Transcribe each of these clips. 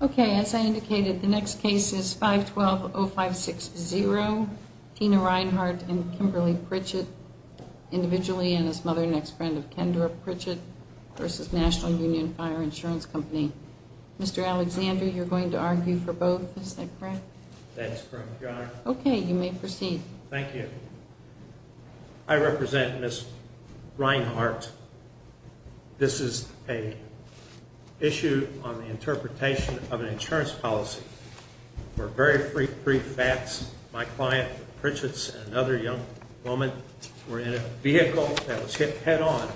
Okay, as I indicated, the next case is 512-0560. Tina Reinhardt and Kimberly Pritchett, individually, and as mother and ex-friend of Kendra Pritchett v. National Union Fire Insurance Company. Mr. Alexander, you're going to argue for both, is that correct? That is correct, Your Honor. Okay, you may proceed. Thank you. I represent Ms. Reinhardt. This is an issue on the interpretation of an insurance policy. For very brief facts, my client Pritchett and another young woman were in a vehicle that was hit head-on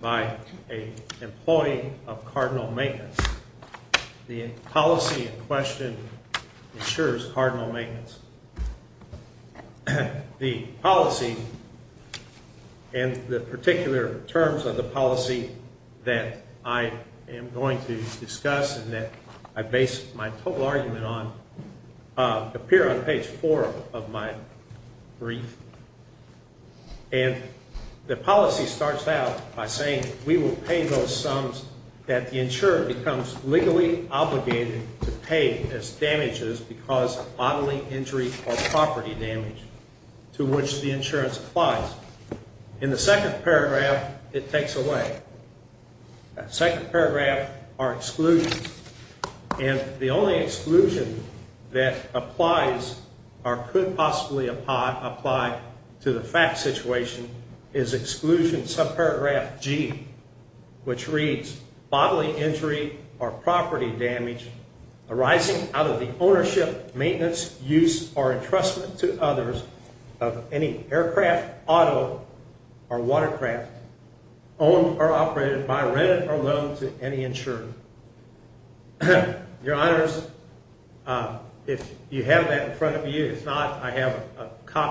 by an employee of Cardinal Maintenance. The policy in question insures Cardinal Maintenance. The policy and the particular terms of the policy that I am going to discuss and that I base my total argument on appear on page 4 of my brief. And the policy starts out by saying we will pay those sums that the insurer becomes legally obligated to pay as damages because of bodily injury or property damage to which the insurance applies. In the second paragraph, it takes away. Second paragraph, our exclusion. Your Honors, if you have that in front of you, if not, I have a copy of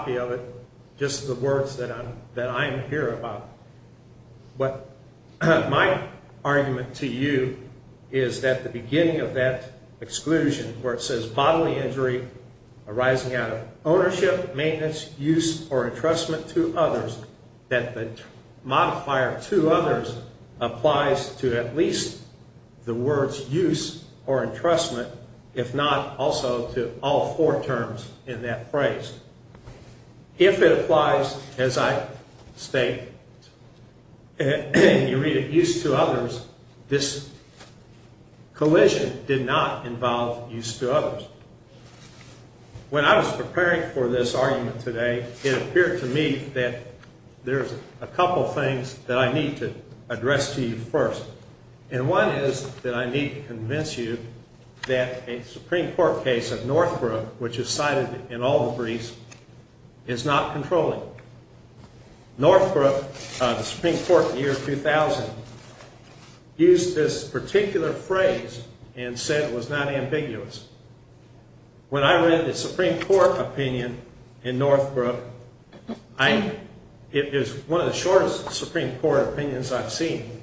it, just the words that I am here about. What my argument to you is that the beginning of that exclusion where it says bodily injury arising out of ownership, maintenance, use, or entrustment to others, that the modifier to others applies to at least the words use or entrustment, if not also to all four terms in that phrase. If it applies as I state, you read it, use to others, this collision did not involve use to others. When I was preparing for this argument today, it appeared to me that there's a couple things that I need to address to you first. And one is that I need to convince you that a Supreme Court case of Northbrook, which is cited in all the briefs, is not controlling. Northbrook, the Supreme Court in the year 2000, used this particular phrase and said it was not ambiguous. When I read the Supreme Court opinion in Northbrook, it is one of the shortest Supreme Court opinions I've seen.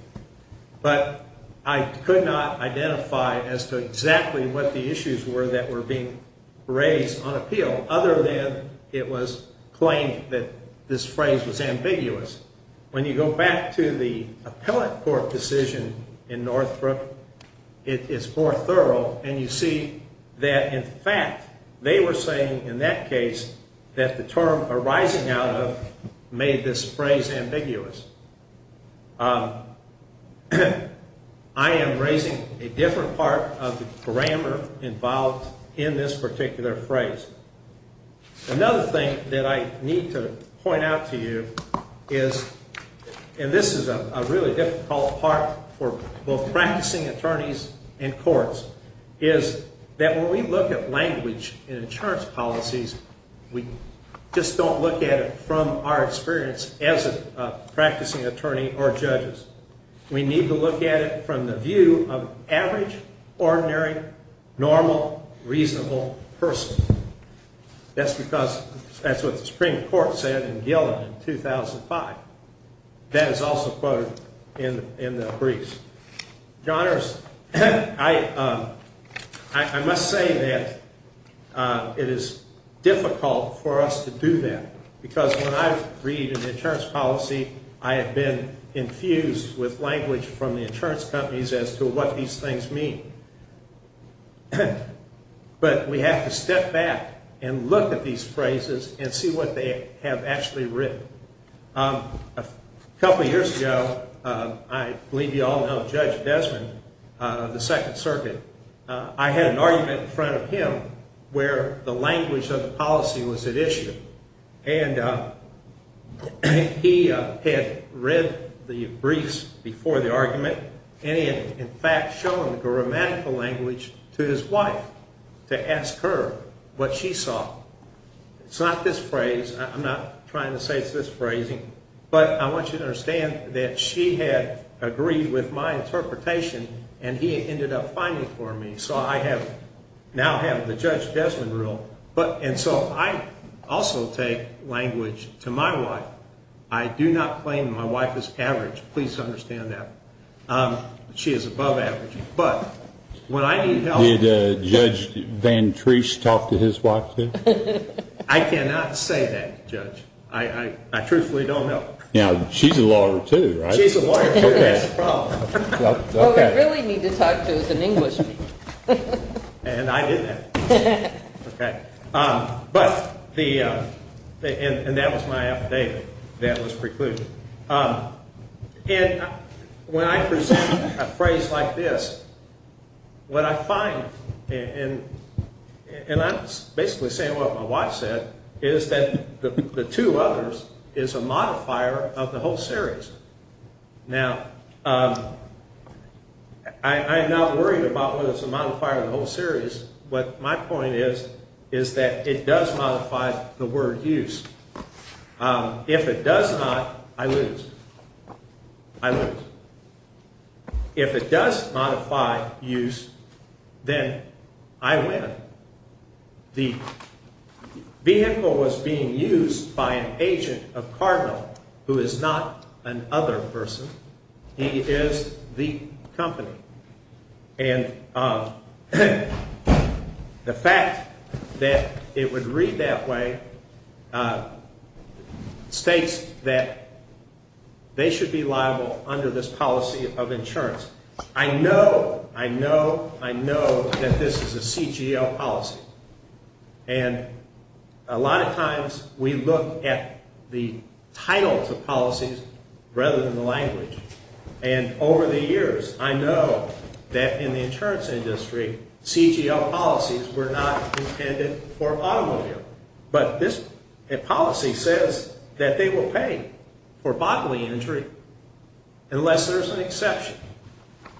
But I could not identify as to exactly what the issues were that were being raised on appeal other than it was claimed that this phrase was ambiguous. When you go back to the appellate court decision in Northbrook, it is more thorough and you see that in fact they were saying in that case that the term arising out of made this phrase ambiguous. I am raising a different part of the grammar involved in this particular phrase. Another thing that I need to point out to you is, and this is a really difficult part for both practicing attorneys and courts, is that when we look at language in insurance policies, we just don't look at it from our experience as a practicing attorney or judges. We need to look at it from the view of average, ordinary, normal, reasonable person. That's because that's what the Supreme Court said in Gillen in 2005. That is also quoted in the briefs. Your Honors, I must say that it is difficult for us to do that because when I read an insurance policy, I have been infused with language from the insurance companies as to what these things mean. But we have to step back and look at these phrases and see what they have actually written. A couple of years ago, I believe you all know Judge Desmond of the Second Circuit. I had an argument in front of him where the language of the policy was at issue. And he had read the briefs before the argument and he had in fact shown the grammatical language to his wife to ask her what she saw. It's not this phrase. I'm not trying to say it's this phrasing. But I want you to understand that she had agreed with my interpretation and he ended up fighting for me. So I now have the Judge Desmond rule. And so I also take language to my wife. I do not claim my wife is average. Please understand that. She is above average. But when I need help. Did Judge Van Trees talk to his wife? I cannot say that, Judge. I truthfully don't know. Now, she's a lawyer too, right? She's a lawyer too. That's the problem. What we really need to talk to is an Englishman. And I didn't have to. Okay. But the, and that was my affidavit. That was preclusion. And when I present a phrase like this, what I find, and I'm basically saying what my wife said, is that the two others is a modifier of the whole series. Now, I'm not worried about whether it's a modifier of the whole series. But my point is, is that it does modify the word use. If it does not, I lose. I lose. If it does modify use, then I win. The vehicle was being used by an agent of Cardinal, who is not an other person. He is the company. And the fact that it would read that way states that they should be liable under this policy of insurance. I know, I know, I know that this is a CGL policy. And a lot of times we look at the titles of policies rather than the language. And over the years, I know that in the insurance industry, CGL policies were not intended for automobile. But this policy says that they will pay for bodily injury unless there's an exception.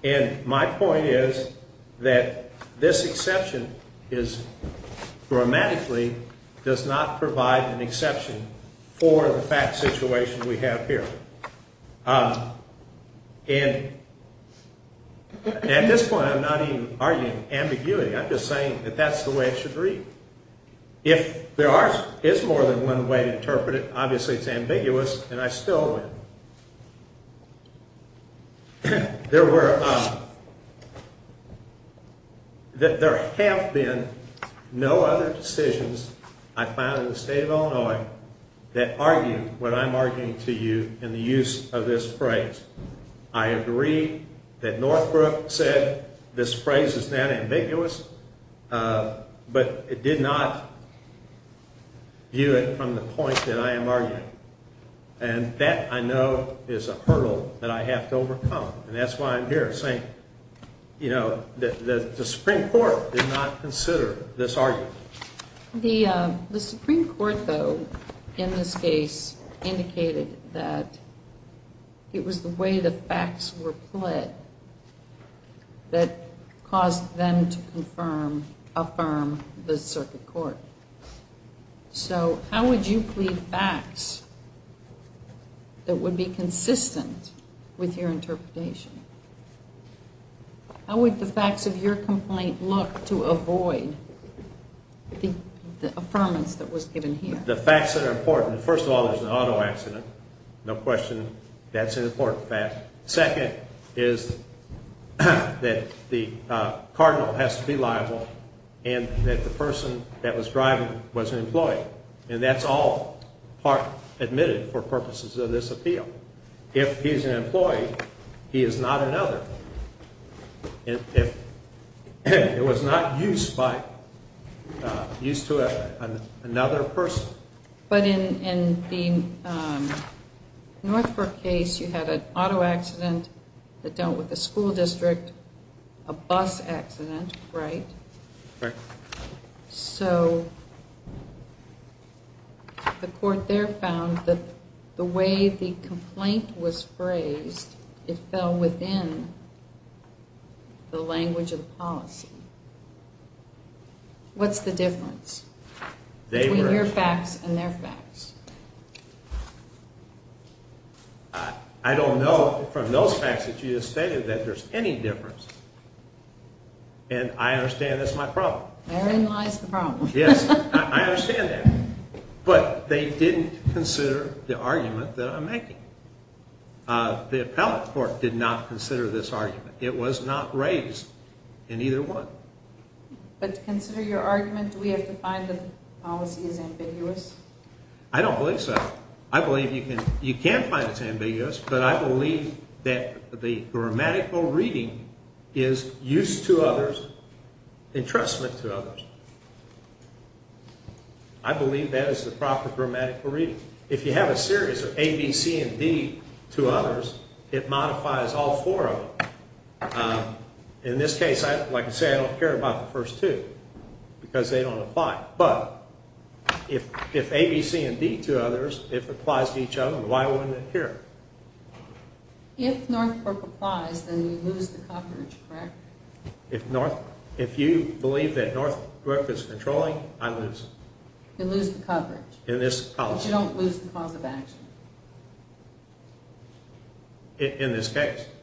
And my point is that this exception is grammatically does not provide an exception for the fact situation we have here. And at this point, I'm not even arguing ambiguity. I'm just saying that that's the way it should read. If there is more than one way to interpret it, obviously it's ambiguous, and I still win. There have been no other decisions I found in the state of Illinois that argue what I'm arguing to you in the use of this phrase. I agree that Northbrook said this phrase is not ambiguous, but it did not view it from the point that I am arguing. And that, I know, is a hurdle that I have to overcome. And that's why I'm here saying, you know, the Supreme Court did not consider this argument. The Supreme Court, though, in this case, indicated that it was the way the facts were pled that caused them to affirm the circuit court. So how would you plead facts that would be consistent with your interpretation? How would the facts of your complaint look to avoid the affirmance that was given here? The facts that are important. First of all, there's an auto accident. No question that's an important fact. Second is that the cardinal has to be liable and that the person that was driving was an employee. And that's all part admitted for purposes of this appeal. If he's an employee, he is not another. It was not used to another person. But in the Northbrook case, you had an auto accident that dealt with a school district, a bus accident, right? Right. So the court there found that the way the complaint was phrased, it fell within the language of policy. What's the difference? Between your facts and their facts? I don't know from those facts that you just stated that there's any difference. And I understand that's my problem. Therein lies the problem. Yes, I understand that. But they didn't consider the argument that I'm making. The appellate court did not consider this argument. It was not raised in either one. But to consider your argument, do we have to find that the policy is ambiguous? I don't believe so. I believe you can find it's ambiguous, but I believe that the grammatical reading is used to others, entrustment to others. I believe that is the proper grammatical reading. If you have a series of A, B, C, and D to others, it modifies all four of them. In this case, like I said, I don't care about the first two because they don't apply. But if A, B, C, and D to others, if it applies to each other, why wouldn't it here? If Northbrook applies, then you lose the coverage, correct? If you believe that Northbrook is controlling, I lose. You lose the coverage. But you don't lose the cause of action. You lose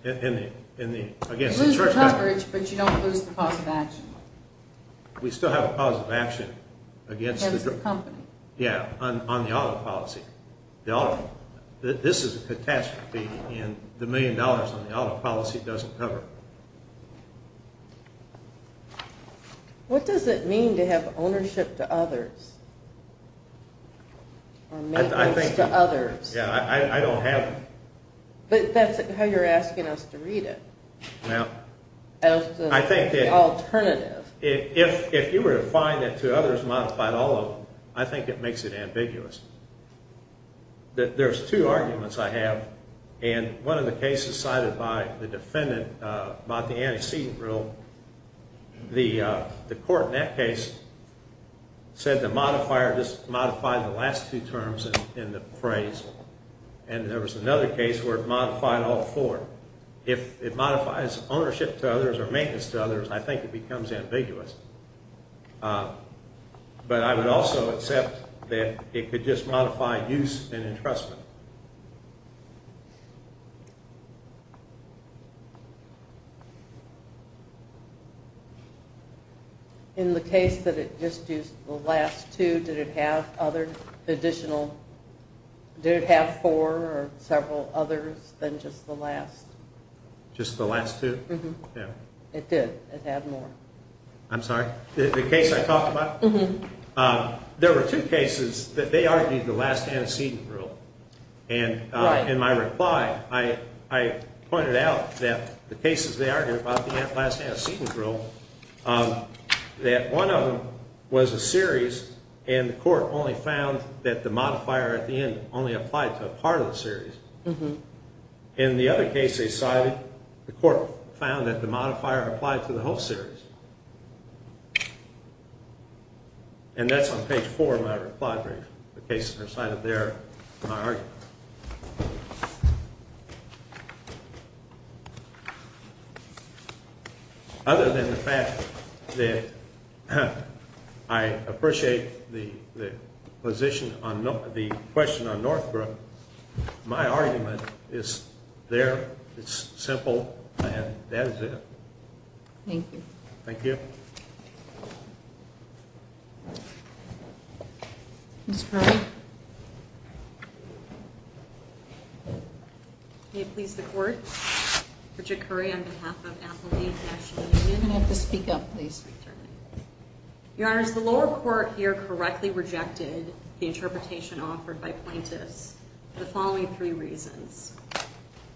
the coverage, but you don't lose the cause of action. We still have a cause of action. Against the company. Yeah, on the auto policy. This is a catastrophe, and the million dollars on the auto policy doesn't cover it. What does it mean to have ownership to others? Or maintenance to others? Yeah, I don't have it. But that's how you're asking us to read it. As an alternative. If you were to find that to others modified all of them, I think it makes it ambiguous. There's two arguments I have, and one of the cases cited by the defendant about the antecedent rule, the court in that case said the modifier just modified the last two terms in the phrase, and there was another case where it modified all four. If it modifies ownership to others or maintenance to others, I think it becomes ambiguous. But I would also accept that it could just modify use and entrustment. In the case that it just used the last two, did it have four or several others than just the last? Just the last two? It did. It had more. I'm sorry? The case I talked about? There were two cases that they argued the last antecedent rule. In my reply, I pointed out that the cases they argued about the last antecedent rule, that one of them was a series, and the court only found that the modifier at the end only applied to a part of the series. In the other case they cited, the court found that the modifier applied to the whole series. And that's on page four of my reply brief. The case they cited there, my argument. Other than the fact that I appreciate the position on the question on Northbrook, my argument is there, it's simple, and that is it. Thank you. Thank you. Ms. Currie. May it please the court, Bridget Currie on behalf of Applebee National Union. You may have to speak up, please. Your Honors, the lower court here correctly rejected the interpretation offered by plaintiffs for the following three reasons.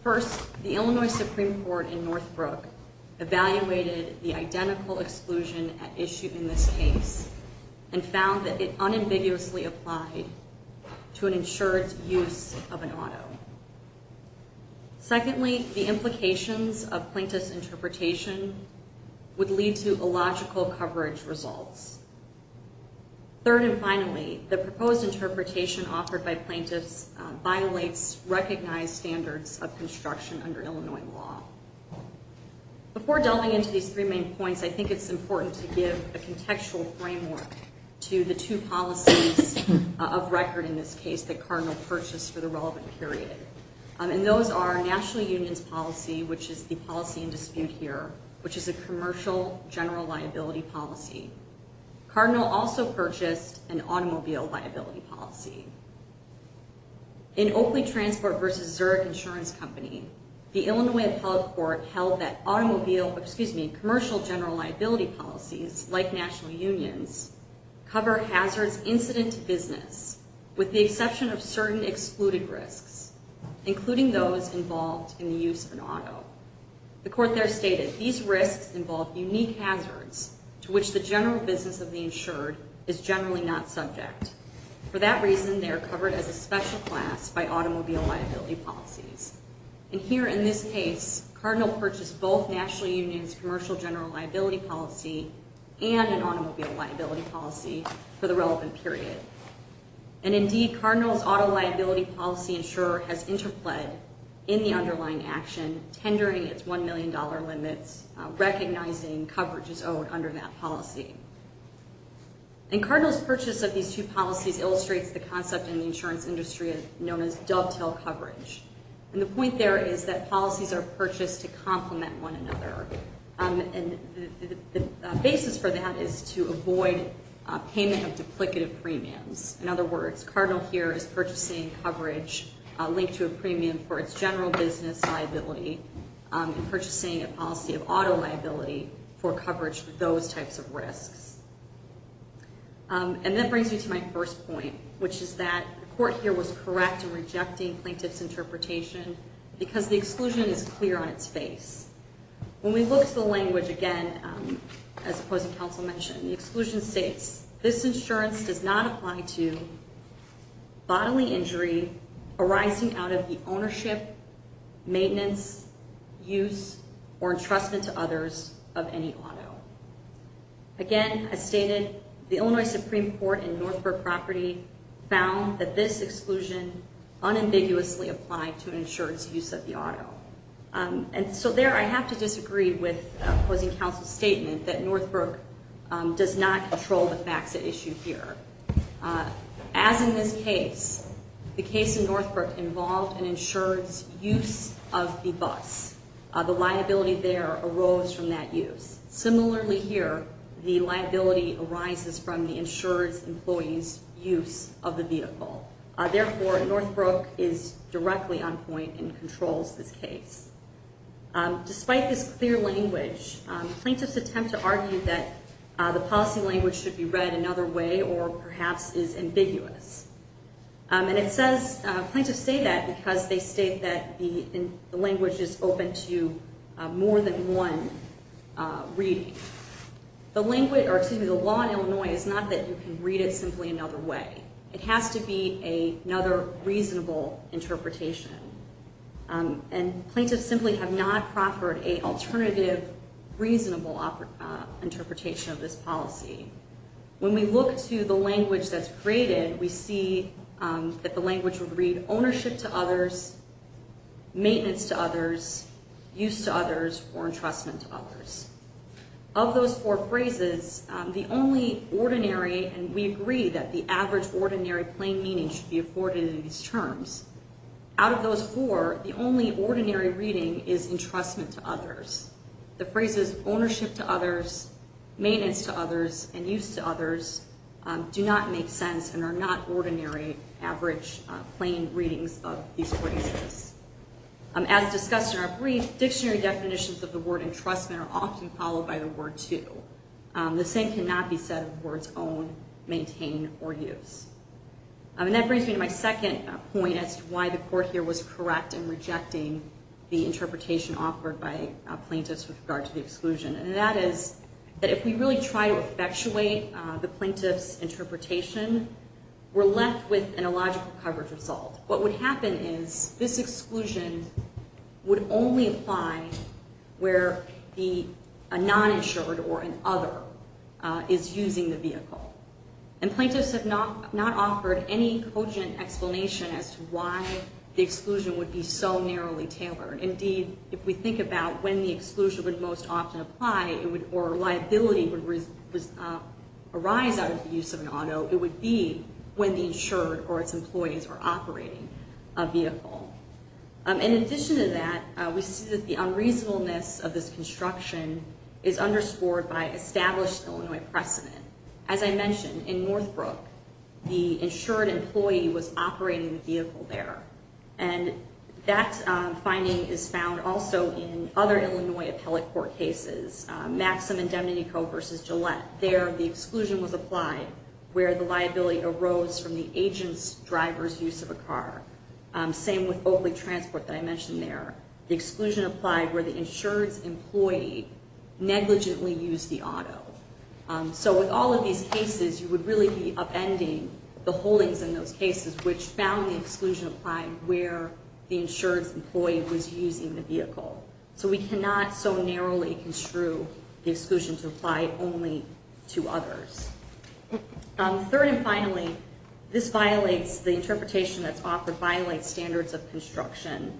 First, the Illinois Supreme Court in Northbrook evaluated the identical exclusion at issue in this case and found that it unambiguously applied to an insured use of an auto. Secondly, the implications of plaintiff's interpretation would lead to illogical coverage results. Third and finally, the proposed interpretation offered by plaintiffs violates recognized standards of construction under Illinois law. Before delving into these three main points, I think it's important to give a contextual framework to the two policies of record in this case that Cardinal purchased for the relevant period. And those are National Union's policy, which is the policy in dispute here, which is a commercial general liability policy. Cardinal also purchased an automobile liability policy. In Oakley Transport v. Zurich Insurance Company, the Illinois Appellate Court held that automobile, excuse me, commercial general liability policies like National Union's cover hazards incident to business with the exception of certain excluded risks, including those involved in the use of an auto. The court there stated, these risks involve unique hazards to which the general business of the insured is generally not subject. For that reason, they are covered as a special class by automobile liability policies. And here in this case, Cardinal purchased both National Union's commercial general liability policy and an automobile liability policy for the relevant period. And indeed, Cardinal's auto liability policy insurer has interplayed in the underlying action, tendering its $1 million limits, recognizing coverage is owed under that policy. And Cardinal's purchase of these two policies illustrates the concept in the insurance industry known as dovetail coverage. And the point there is that policies are purchased to complement one another. And the basis for that is to avoid payment of duplicative premiums. In other words, Cardinal here is purchasing coverage linked to a premium for its general business liability and purchasing a policy of auto liability for coverage for those types of risks. And that brings me to my first point, which is that the court here was correct in rejecting plaintiff's interpretation because the exclusion is clear on its face. When you look at the language again, as opposing counsel mentioned, the exclusion states, this insurance does not apply to bodily injury arising out of the ownership, maintenance, use, or entrustment to others of any auto. Again, as stated, the Illinois Supreme Court in Northbrook property found that this exclusion unambiguously applied to insurance use of the auto. And so there I have to disagree with opposing counsel's statement that Northbrook does not control the FACSA issue here. As in this case, the case in Northbrook involved an insured's use of the bus. The liability there arose from that use. Similarly here, the liability arises from the insured's employee's use of the vehicle. Therefore, Northbrook is directly on point and controls this case. Despite this clear language, plaintiffs attempt to argue that the policy language should be read another way or perhaps is ambiguous. And it says, plaintiffs say that because they state that the language is open to more than one reading. The law in Illinois is not that you can read it simply another way. It has to be another reasonable interpretation. And plaintiffs simply have not proffered a alternative reasonable interpretation of this policy. When we look to the language that's created, we see that the language would read ownership to others, maintenance to others, use to others, or entrustment to others. Of those four phrases, the only ordinary, and we agree that the average ordinary plain meaning should be afforded in these terms. Out of those four, the only ordinary reading is entrustment to others. The phrases ownership to others, maintenance to others, and use to others do not make sense and are not ordinary average plain readings of these phrases. As discussed in our brief, dictionary definitions of the word entrustment are often followed by the word to. The same cannot be said of words own, maintain, or use. And that brings me to my second point as to why the court here was correct in rejecting the interpretation offered by plaintiffs with regard to the exclusion. And that is that if we really try to effectuate the plaintiff's interpretation, we're left with an illogical coverage result. What would happen is this exclusion would only apply where a non-insured or an other is using the vehicle. And plaintiffs have not offered any cogent explanation as to why the exclusion would be so narrowly tailored. Indeed, if we think about when the exclusion would most often apply, or liability would arise out of the use of an auto, it would be when the insured or its employees were operating a vehicle. In addition to that, we see that the unreasonableness of this construction is underscored by established Illinois precedent. As I mentioned, in Northbrook, the insured employee was operating the vehicle there. And that finding is found also in other Illinois appellate court cases, Maxim and Demnico v. Gillette. There, the exclusion was applied where the liability arose from the agent's driver's use of a car. Same with Oakley Transport that I mentioned there. The exclusion applied where the insured's employee negligently used the auto. So with all of these cases, you would really be upending the holdings in those cases which found the exclusion applied where the insured's employee was using the vehicle. So we cannot so narrowly construe the exclusion to apply only to others. Third and finally, this violates the interpretation that's offered, violates standards of construction.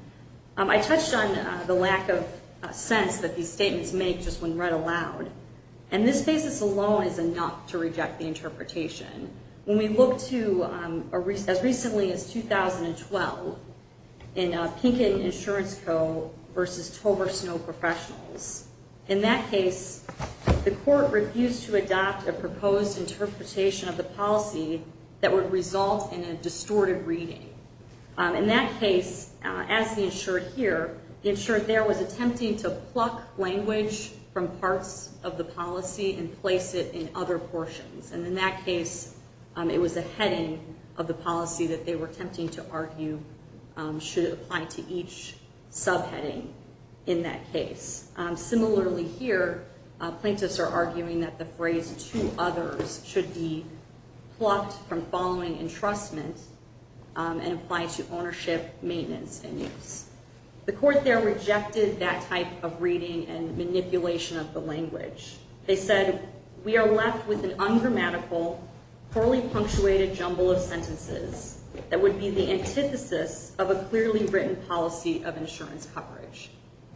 I touched on the lack of sense that these statements make just when read aloud. And this basis alone is enough to reject the interpretation. When we look to, as recently as 2012, in Pinkett Insurance Co. v. Tover Snow Professionals, in that case, the court refused to adopt a proposed interpretation of the policy that would result in a distorted reading. In that case, as the insured here, the insured there was attempting to pluck language from parts of the policy and place it in other portions. And in that case, it was a heading of the policy that they were attempting to argue should apply to each subheading in that case. Similarly here, plaintiffs are arguing that the phrase, to others, should be plucked from following entrustment and apply to ownership, maintenance, and use. The court there rejected that type of reading and manipulation of the language. They said, we are left with an ungrammatical, poorly punctuated jumble of sentences that would be the antithesis of a clearly written policy of insurance coverage.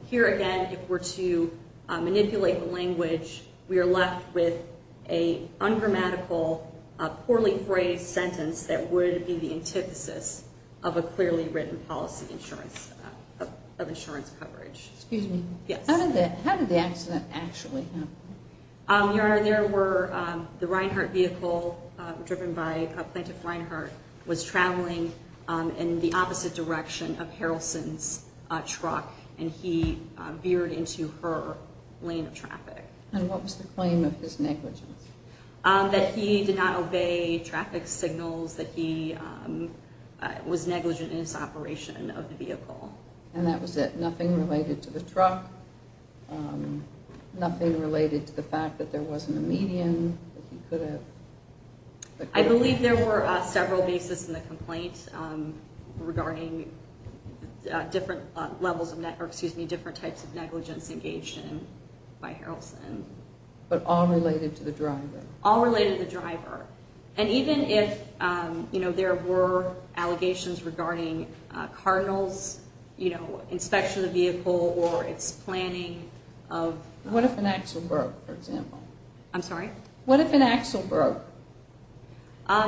Here again, if we're to manipulate the language, we are left with an ungrammatical, poorly phrased sentence that would be the antithesis of a clearly written policy of insurance coverage. Excuse me. Yes. How did the accident actually happen? Your Honor, there were, the Reinhart vehicle, driven by Plaintiff Reinhart, was traveling in the opposite direction of Harrelson's truck and he veered into her lane of traffic. And what was the claim of his negligence? That he did not obey traffic signals, that he was negligent in his operation of the vehicle. And that was it, nothing related to the truck, nothing related to the fact that there wasn't a median, that he could have... I believe there were several bases in the complaint regarding different levels of, or excuse me, different types of negligence engaged in by Harrelson. But all related to the driver? All related to the driver. And even if, you know, there were allegations regarding Cardinal's, you know, inspection of the vehicle or its planning of... What if an axle broke, for example? I'm sorry? What if an axle broke?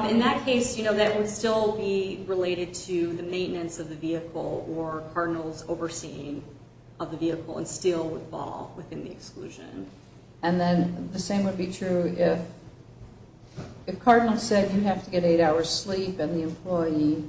In that case, you know, that would still be related to the maintenance of the vehicle or Cardinal's overseeing of the vehicle and still would fall within the exclusion. And then the same would be true if Cardinal said you have to get eight hours sleep and the employee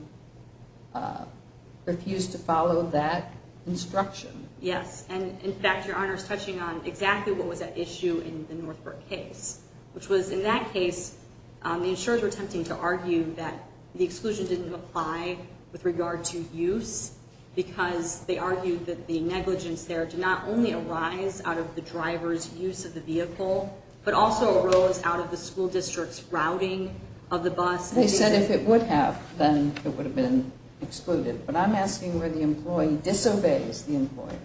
refused to follow that instruction. Yes, and in fact, Your Honor is touching on exactly what was at issue in the Northbrook case, which was, in that case, the insurers were attempting to argue that the exclusion didn't apply with regard to use because they argued that the negligence there did not only arise out of the driver's use of the vehicle, but also arose out of the school district's routing of the bus. They said if it would have, then it would have been excluded. But I'm asking where the employee disobeys the employer.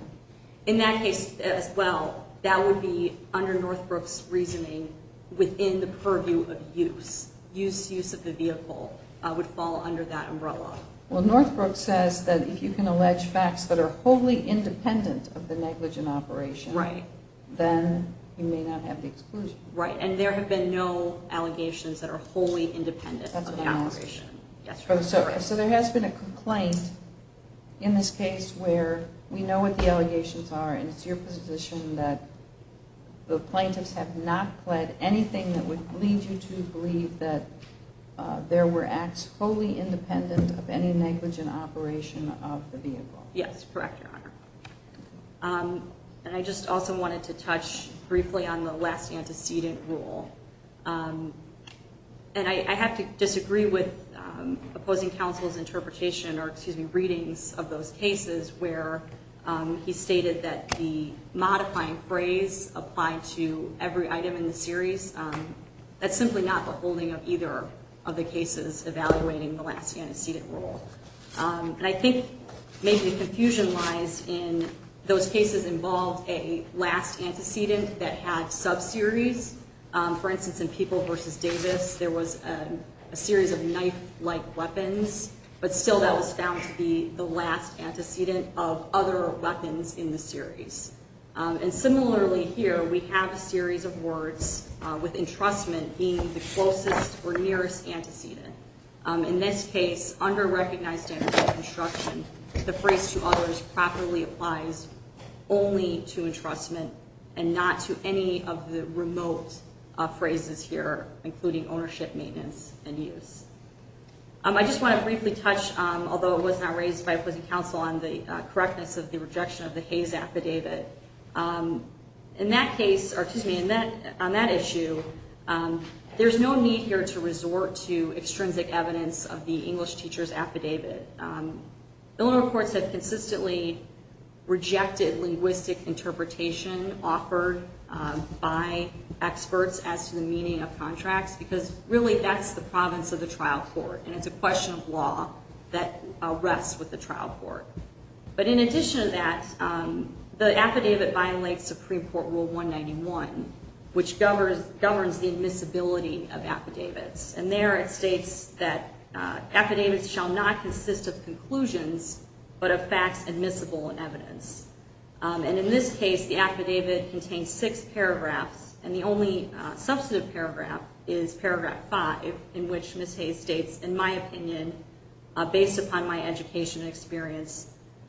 In that case as well, that would be under Northbrook's reasoning within the purview of use. Use of the vehicle would fall under that umbrella. Well, Northbrook says that if you can allege facts that are wholly independent of the negligent operation, then you may not have the exclusion. Right, and there have been no allegations that are wholly independent of the operation. So there has been a complaint in this case where we know what the allegations are, and it's your position that the plaintiffs have not pled anything that would lead you to believe that there were acts wholly independent of any negligent operation of the vehicle. Yes, correct, Your Honor. And I just also wanted to touch briefly on the last antecedent rule. And I have to disagree with opposing counsel's interpretation, or, excuse me, readings of those cases, where he stated that the modifying phrase applied to every item in the series, that's simply not the holding of either of the cases evaluating the last antecedent rule. And I think maybe the confusion lies in those cases involved a last antecedent that had sub-series. For instance, in People v. Davis, there was a series of knife-like weapons, but still that was found to be the last antecedent of other weapons in the series. And similarly here, we have a series of words with entrustment being the closest or nearest antecedent. In this case, under recognized standards of construction, the phrase to others properly applies only to entrustment and not to any of the remote phrases here, including ownership, maintenance, and use. I just want to briefly touch, although it was not raised by opposing counsel, on the correctness of the rejection of the Hayes affidavit. In that case, or, excuse me, on that issue, there's no need here to resort to extrinsic evidence of the English teacher's affidavit. Billing reports have consistently rejected linguistic interpretation offered by experts as to the meaning of contracts, because really that's the province of the trial court, and it's a question of law that rests with the trial court. But in addition to that, the affidavit violates Supreme Court Rule 191, which governs the admissibility of affidavits. And there it states that affidavits shall not consist of conclusions, but of facts admissible in evidence. And in this case, the affidavit contains six paragraphs, and the only substantive paragraph is Paragraph 5, in which Ms. Hayes states, in my opinion, based upon my education and experience,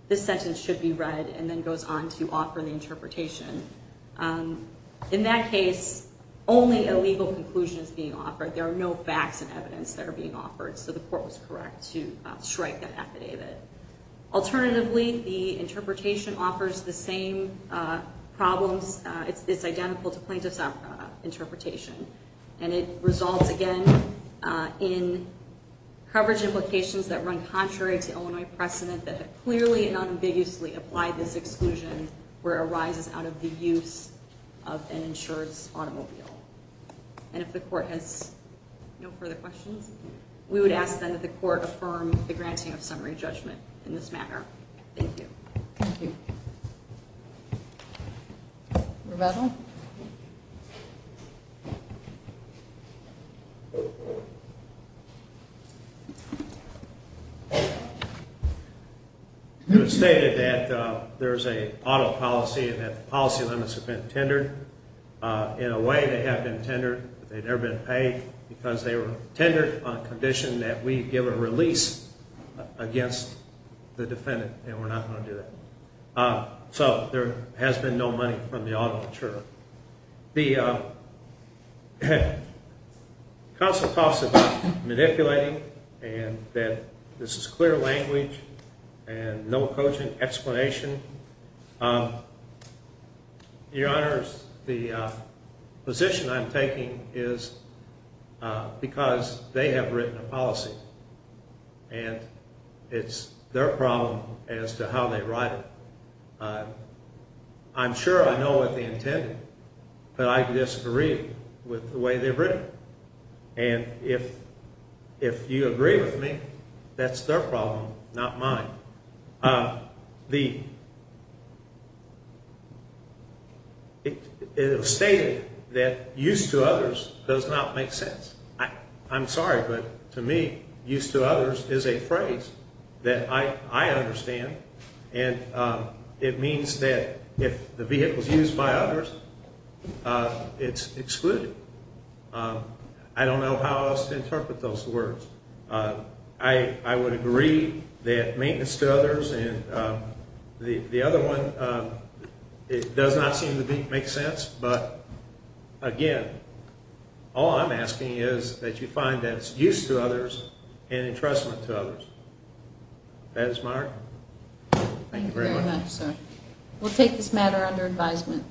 this sentence should be read, and then goes on to offer the interpretation. In that case, only a legal conclusion is being offered. There are no facts and evidence that are being offered, so the court was correct to strike that affidavit. Alternatively, the interpretation offers the same problems. It's identical to plaintiff's interpretation, and it results, again, in coverage implications that run contrary to Illinois precedent that have clearly and unambiguously applied this exclusion where it arises out of the use of an insurance automobile. And if the court has no further questions, we would ask then that the court affirm the granting of summary judgment in this matter. Thank you. Rebecca? It was stated that there's an auto policy and that the policy limits have been tendered. In a way, they have been tendered, but they've never been paid because they were tendered on the condition that we give a release against the defendant, and we're not going to do that. So there has been no money from the auto insurer. The counsel talks about manipulating and that this is clear language and no cogent explanation. Your Honors, the position I'm taking is because they have written a policy, and it's their problem as to how they write it. I'm sure I know what they intended, but I disagree with the way they've written it. And if you agree with me, that's their problem, not mine. It was stated that use to others does not make sense. I'm sorry, but to me, use to others is a phrase that I understand, and it means that if the vehicle is used by others, it's excluded. I don't know how else to interpret those words. I would agree that maintenance to others and the other one, it does not seem to make sense, but again, all I'm asking is that you find that it's use to others and entrustment to others. That is my argument. Thank you very much, sir. We'll take this matter under advisement.